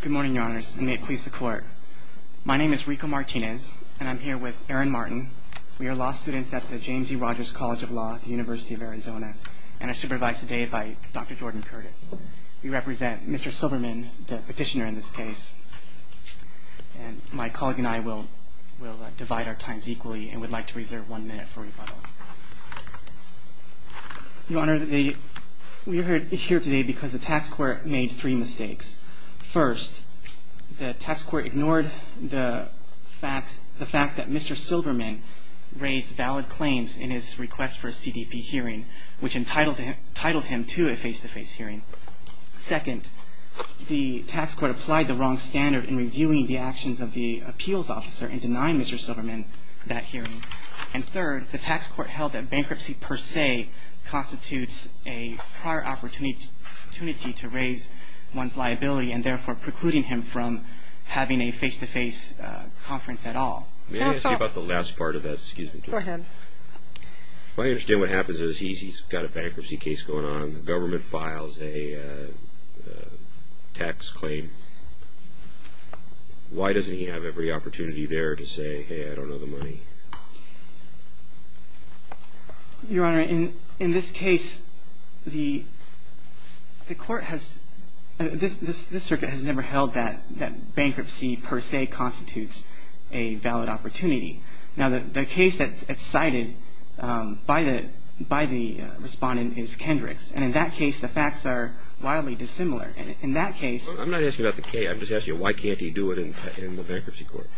Good morning, Your Honors, and may it please the Court. My name is Rico Martinez, and I'm here with Aaron Martin. We are law students at the James E. Rogers College of Law at the University of Arizona, and are supervised today by Dr. Jordan Curtis. We represent Mr. Silberman, the petitioner in this case, and my colleague and I will divide our times equally and would like to reserve one minute for rebuttal. Your Honor, we are here today because the tax court made three mistakes. First, the tax court ignored the fact that Mr. Silberman raised valid claims in his request for a CDP hearing, which entitled him to a face-to-face hearing. Second, the tax court applied the wrong standard in reviewing the actions of the appeals officer in denying Mr. Silberman that hearing. And third, the tax court held that bankruptcy per se constitutes a prior opportunity to raise one's liability and therefore precluding him from having a face-to-face conference at all. May I ask you about the last part of that? Go ahead. I understand what happens is he's got a bankruptcy case going on. The government files a tax claim. Why doesn't he have every opportunity there to say, hey, I don't know the money? Your Honor, in this case, the court has – this circuit has never held that bankruptcy per se constitutes a valid opportunity. Now, the case that's cited by the respondent is Kendrick's. And in that case, the facts are wildly dissimilar. In that case – I'm not asking about the case. I'm just asking you, why can't he do it in the bankruptcy court?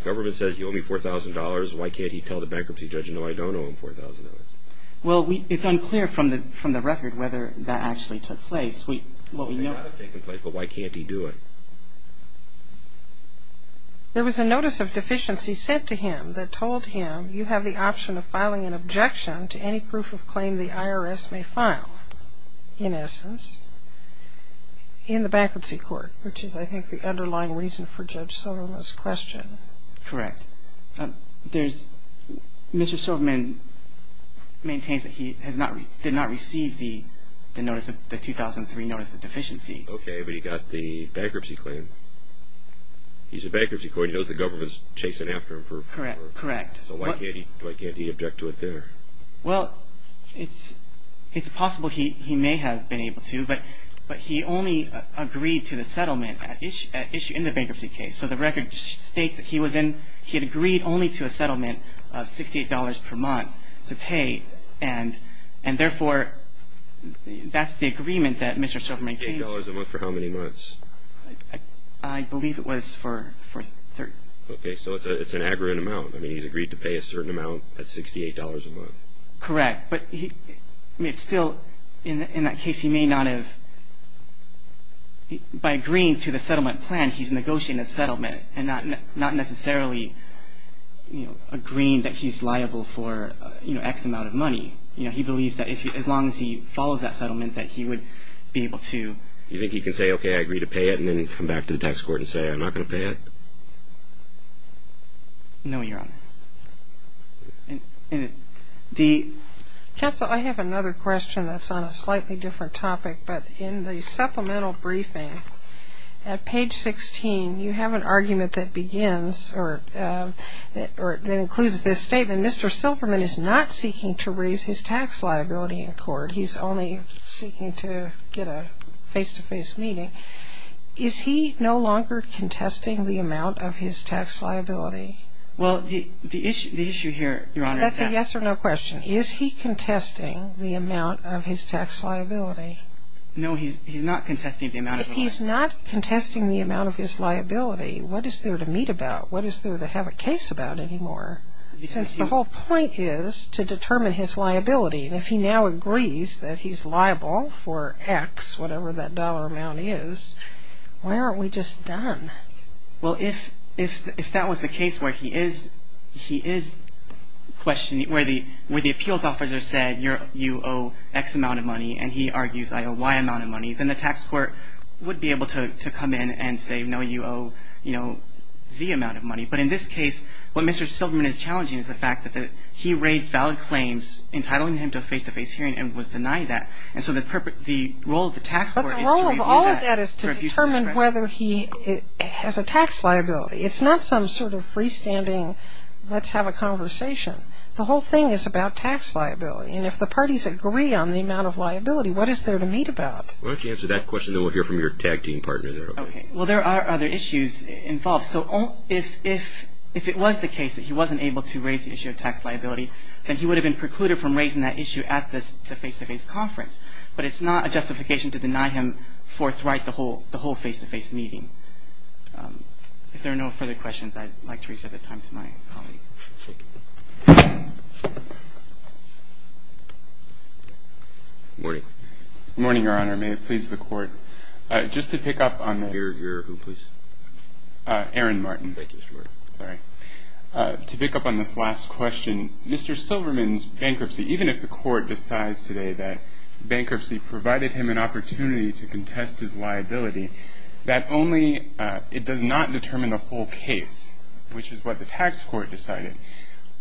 The government says, you owe me $4,000. Why can't he tell the bankruptcy judge, no, I don't owe him $4,000? Well, it's unclear from the record whether that actually took place. Well, it may not have taken place, but why can't he do it? There was a notice of deficiency sent to him that told him you have the option of filing an objection to any proof of claim the IRS may file, in essence, in the bankruptcy court, which is, I think, the underlying reason for Judge Silverman's question. Correct. There's – Mr. Silverman maintains that he has not – did not receive the notice of – the 2003 notice of deficiency. Okay, but he got the bankruptcy claim. He's a bankruptcy court. He knows the government's chasing after him for – Correct, correct. So why can't he – why can't he object to it there? Well, it's possible he may have been able to, but he only agreed to the settlement at issue in the bankruptcy case. So the record states that he was in – he had agreed only to a settlement of $68 per month to pay, and therefore, that's the agreement that Mr. Silverman came to. $68 a month for how many months? I believe it was for – Okay, so it's an aggruent amount. I mean, he's agreed to pay a certain amount at $68 a month. Correct, but he – I mean, it's still – in that case, he may not have – by agreeing to the settlement plan, he's negotiating a settlement and not necessarily, you know, agreeing that he's liable for, you know, X amount of money. You know, he believes that as long as he follows that settlement, that he would be able to – No, Your Honor. Counsel, I have another question that's on a slightly different topic, but in the supplemental briefing at page 16, you have an argument that begins or that includes this statement, Mr. Silverman is not seeking to raise his tax liability in court. He's only seeking to get a face-to-face meeting. Is he no longer contesting the amount of his tax liability? Well, the issue here, Your Honor, is that – That's a yes or no question. Is he contesting the amount of his tax liability? No, he's not contesting the amount of his liability. If he's not contesting the amount of his liability, what is there to meet about? What is there to have a case about anymore since the whole point is to determine his liability? If he now agrees that he's liable for X, whatever that dollar amount is, why aren't we just done? Well, if that was the case where he is questioning – where the appeals officer said you owe X amount of money and he argues I owe Y amount of money, then the tax court would be able to come in and say no, you owe, you know, Z amount of money. But in this case, what Mr. Silverman is challenging is the fact that he raised valid claims entitling him to a face-to-face hearing and was denied that. And so the role of the tax court is to review that. But the role of all of that is to determine whether he has a tax liability. It's not some sort of freestanding let's have a conversation. The whole thing is about tax liability. And if the parties agree on the amount of liability, what is there to meet about? Well, if you answer that question, then we'll hear from your tag team partner there. Okay. Well, there are other issues involved. So if it was the case that he wasn't able to raise the issue of tax liability, then he would have been precluded from raising that issue at the face-to-face conference. But it's not a justification to deny him forthright the whole face-to-face meeting. If there are no further questions, I'd like to reserve the time to my colleague. Thank you. Good morning. Good morning, Your Honor. May it please the Court. Just to pick up on this. Your who, please? Aaron Martin. Thank you, Mr. Ward. Sorry. To pick up on this last question, Mr. Silberman's bankruptcy, even if the Court decides today that bankruptcy provided him an opportunity to contest his liability, that only it does not determine the whole case, which is what the tax court decided.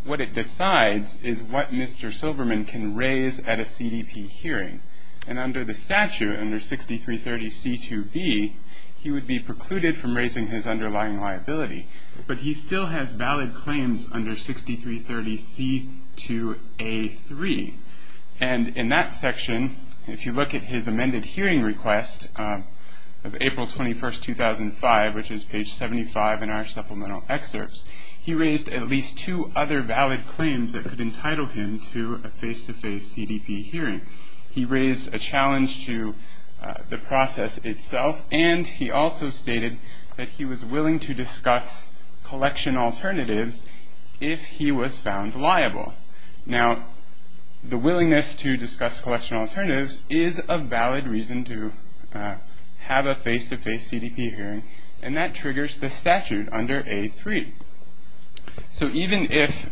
What it decides is what Mr. Silberman can raise at a CDP hearing. And under the statute, under 6330C2B, he would be precluded from raising his underlying liability. But he still has valid claims under 6330C2A3. And in that section, if you look at his amended hearing request of April 21, 2005, which is page 75 in our supplemental excerpts, he raised at least two other valid claims that could entitle him to a face-to-face CDP hearing. He raised a challenge to the process itself, and he also stated that he was willing to discuss collection alternatives if he was found liable. Now, the willingness to discuss collection alternatives is a valid reason to have a face-to-face CDP hearing, and that triggers the statute under A3. So even if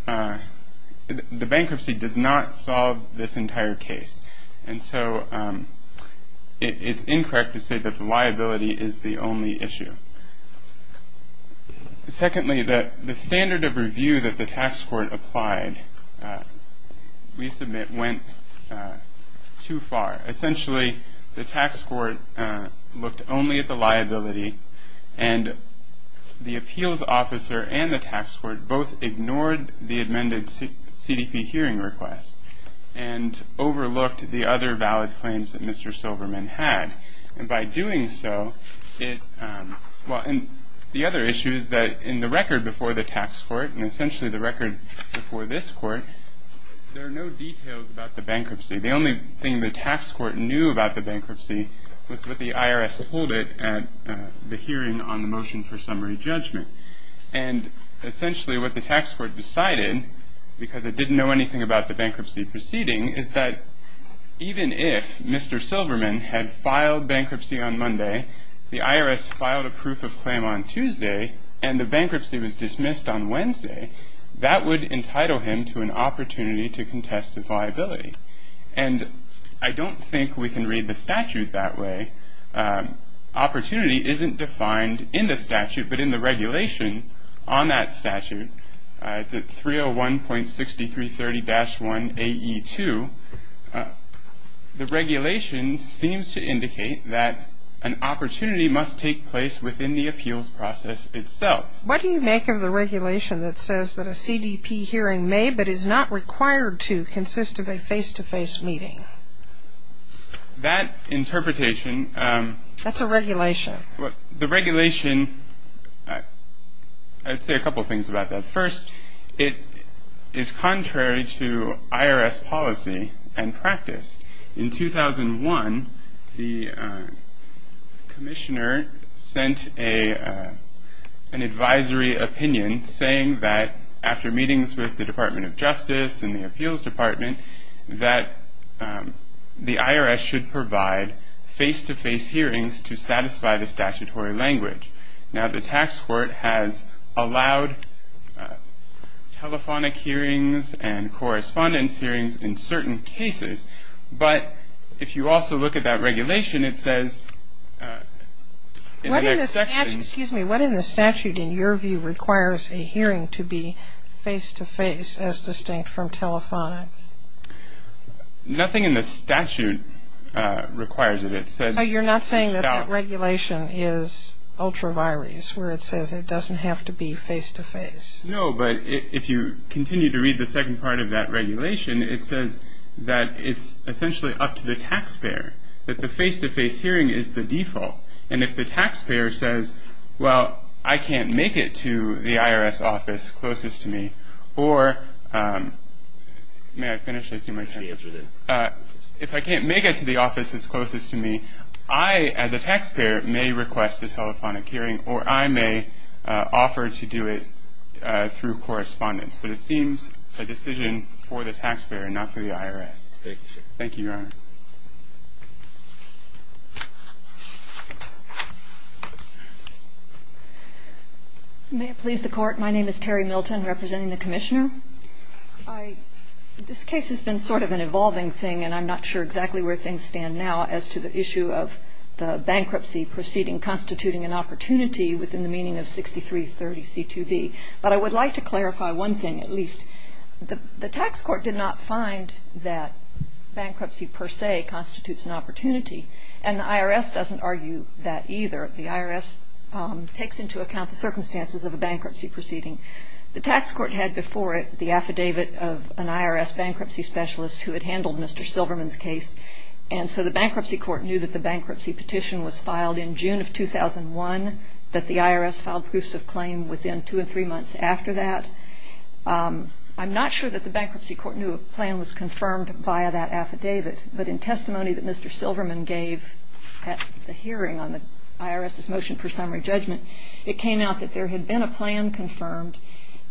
the bankruptcy does not solve this entire case, and so it's incorrect to say that the liability is the only issue. Secondly, the standard of review that the tax court applied, we submit, went too far. Essentially, the tax court looked only at the liability, and the appeals officer and the tax court both ignored the amended CDP hearing request and overlooked the other valid claims that Mr. Silverman had. And by doing so, it – well, and the other issue is that in the record before the tax court, and essentially the record before this court, there are no details about the bankruptcy. The only thing the tax court knew about the bankruptcy was what the IRS told it at the hearing on the motion for summary judgment. And essentially what the tax court decided, because it didn't know anything about the bankruptcy proceeding, is that even if Mr. Silverman had filed bankruptcy on Monday, the IRS filed a proof of claim on Tuesday, and the bankruptcy was dismissed on Wednesday, that would entitle him to an opportunity to contest his liability. And I don't think we can read the statute that way. Opportunity isn't defined in the statute, but in the regulation on that statute, 301.6330-1AE2, the regulation seems to indicate that an opportunity must take place within the appeals process itself. What do you make of the regulation that says that a CDP hearing may, but is not required to, consist of a face-to-face meeting? That interpretation. That's a regulation. The regulation, I'd say a couple things about that. First, it is contrary to IRS policy and practice. In 2001, the commissioner sent an advisory opinion saying that after meetings with the Department of Justice and the appeals department, that the IRS should provide face-to-face hearings to satisfy the statutory language. Now, the tax court has allowed telephonic hearings and correspondence hearings in certain cases, but if you also look at that regulation, it says in an exception. Excuse me. What in the statute, in your view, requires a hearing to be face-to-face as distinct from telephonic? Nothing in the statute requires it. It says. Oh, you're not saying that that regulation is ultra-virus, where it says it doesn't have to be face-to-face? No, but if you continue to read the second part of that regulation, it says that it's essentially up to the taxpayer, that the face-to-face hearing is the default. And if the taxpayer says, well, I can't make it to the IRS office closest to me, or may I finish? If I can't make it to the office that's closest to me, I as a taxpayer may request a telephonic hearing or I may offer to do it through correspondence. But it seems a decision for the taxpayer and not for the IRS. Thank you, sir. May it please the Court. My name is Terry Milton, representing the Commissioner. This case has been sort of an evolving thing, and I'm not sure exactly where things stand now as to the issue of the bankruptcy proceeding constituting an opportunity within the meaning of 6330C2B. But I would like to clarify one thing, at least. The tax court did not find that bankruptcy per se constitutes an opportunity, and the IRS doesn't argue that either. The IRS takes into account the circumstances of a bankruptcy proceeding. The tax court had before it the affidavit of an IRS bankruptcy specialist who had handled Mr. Silverman's case, and so the bankruptcy court knew that the bankruptcy petition was filed in June of 2001, that the IRS filed proofs of claim within two or three months after that. I'm not sure that the bankruptcy court knew a plan was confirmed via that affidavit, but in testimony that Mr. Silverman gave at the hearing on the IRS's motion for summary judgment, it came out that there had been a plan confirmed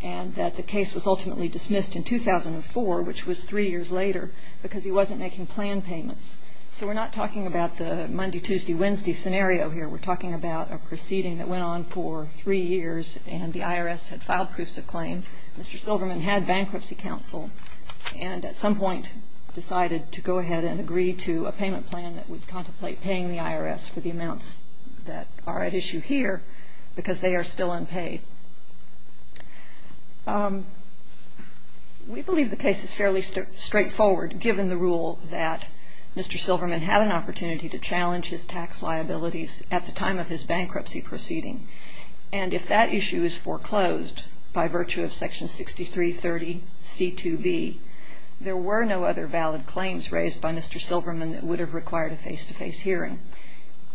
and that the case was ultimately dismissed in 2004, which was three years later, because he wasn't making plan payments. So we're not talking about the Monday, Tuesday, Wednesday scenario here. We're talking about a proceeding that went on for three years, and the IRS had filed proofs of claim. Mr. Silverman had bankruptcy counsel and at some point decided to go ahead and agree to a payment plan that would contemplate paying the IRS for the amounts that are at issue here because they are still unpaid. We believe the case is fairly straightforward, given the rule that Mr. Silverman had an opportunity to challenge his tax liabilities at the time of his bankruptcy proceeding. And if that issue is foreclosed by virtue of Section 6330C2B, there were no other valid claims raised by Mr. Silverman that would have required a face-to-face hearing.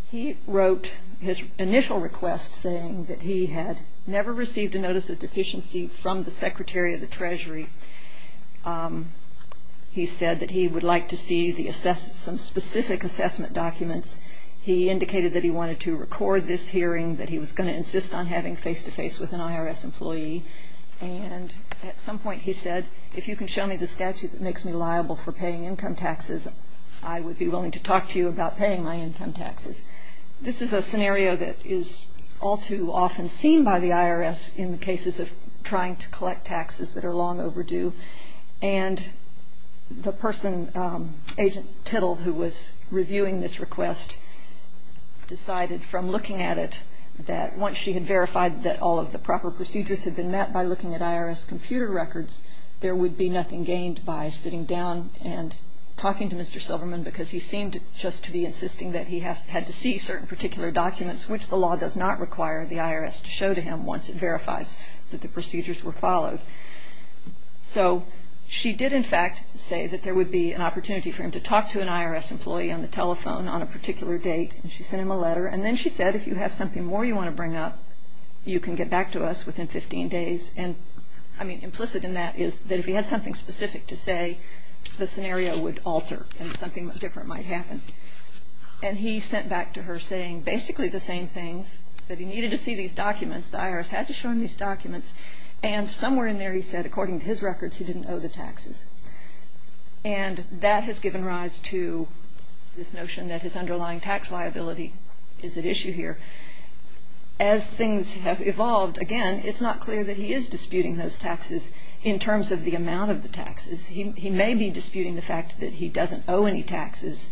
He wrote his initial request saying that he had never received a notice of deficiency from the Secretary of the Treasury. He said that he would like to see some specific assessment documents. He indicated that he wanted to record this hearing, that he was going to insist on having face-to-face with an IRS employee. And at some point he said, if you can show me the statute that makes me liable for paying income taxes, I would be willing to talk to you about paying my income taxes. This is a scenario that is all too often seen by the IRS in the cases of trying to collect taxes that are long overdue. And the person, Agent Tittle, who was reviewing this request, decided from looking at it that once she had verified that all of the proper procedures had been met by looking at IRS computer records, there would be nothing gained by sitting down and talking to Mr. Silverman, because he seemed just to be insisting that he had to see certain particular documents, which the law does not require the IRS to show to him once it verifies that the procedures were followed. So she did, in fact, say that there would be an opportunity for him to talk to an IRS employee on the telephone on a particular date, and she sent him a letter. And then she said, if you have something more you want to bring up, you can get back to us within 15 days. And implicit in that is that if he had something specific to say, the scenario would alter and something different might happen. And he sent back to her saying basically the same things, that he needed to see these documents, the IRS had to show him these documents, and somewhere in there he said, according to his records, he didn't owe the taxes. And that has given rise to this notion that his underlying tax liability is at issue here. As things have evolved, again, it's not clear that he is disputing those taxes in terms of the amount of the taxes. He may be disputing the fact that he doesn't owe any taxes,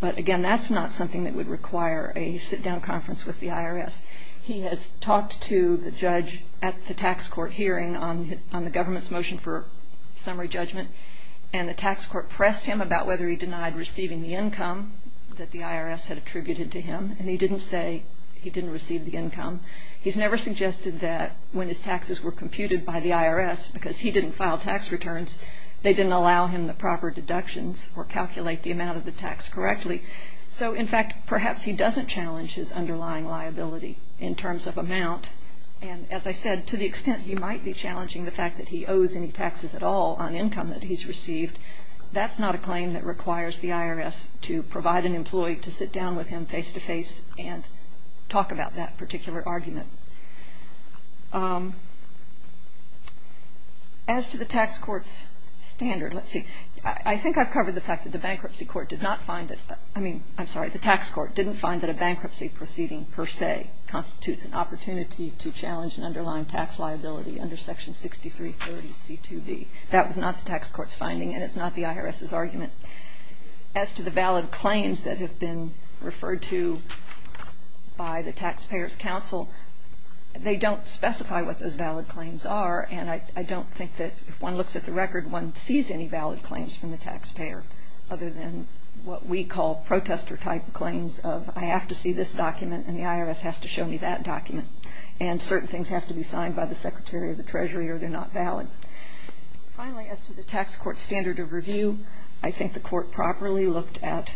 but, again, that's not something that would require a sit-down conference with the IRS. He has talked to the judge at the tax court hearing on the government's motion for summary judgment, and the tax court pressed him about whether he denied receiving the income that the IRS had attributed to him, and he didn't say he didn't receive the income. He's never suggested that when his taxes were computed by the IRS, because he didn't file tax returns, they didn't allow him the proper deductions or calculate the amount of the tax correctly. So, in fact, perhaps he doesn't challenge his underlying liability in terms of amount, and as I said, to the extent he might be challenging the fact that he owes any taxes at all on income that he's received, that's not a claim that requires the IRS to provide an employee to sit down with him face-to-face and talk about that particular argument. As to the tax court's standard, let's see, I think I've covered the fact that the bankruptcy court did not find that, I mean, I'm sorry, the tax court didn't find that a bankruptcy proceeding per se constitutes an opportunity to challenge an underlying tax liability under Section 6330C2B. That was not the tax court's finding, and it's not the IRS's argument. As to the valid claims that have been referred to by the Taxpayers' Council, they don't specify what those valid claims are, and I don't think that if one looks at the record, one sees any valid claims from the taxpayer other than what we call protester-type claims of, I have to see this document and the IRS has to show me that document, and certain things have to be signed by the Secretary of the Treasury or they're not valid. Finally, as to the tax court's standard of review, I think the court properly looked at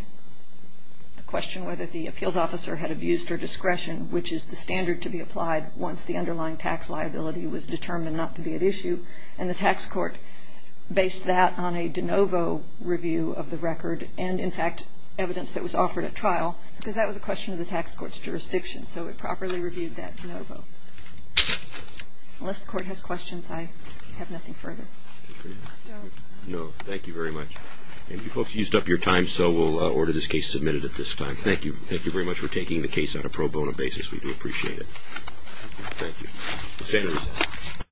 the question whether the appeals officer had abuse or discretion, which is the standard to be applied once the underlying tax liability was determined not to be at issue, and the tax court based that on a de novo review of the record and, in fact, evidence that was offered at trial, because that was a question of the tax court's jurisdiction, so it properly reviewed that de novo. Unless the court has questions, I have nothing further. No, thank you very much. And you folks used up your time, so we'll order this case submitted at this time. Thank you. Thank you very much for taking the case on a pro bono basis. We do appreciate it. Thank you.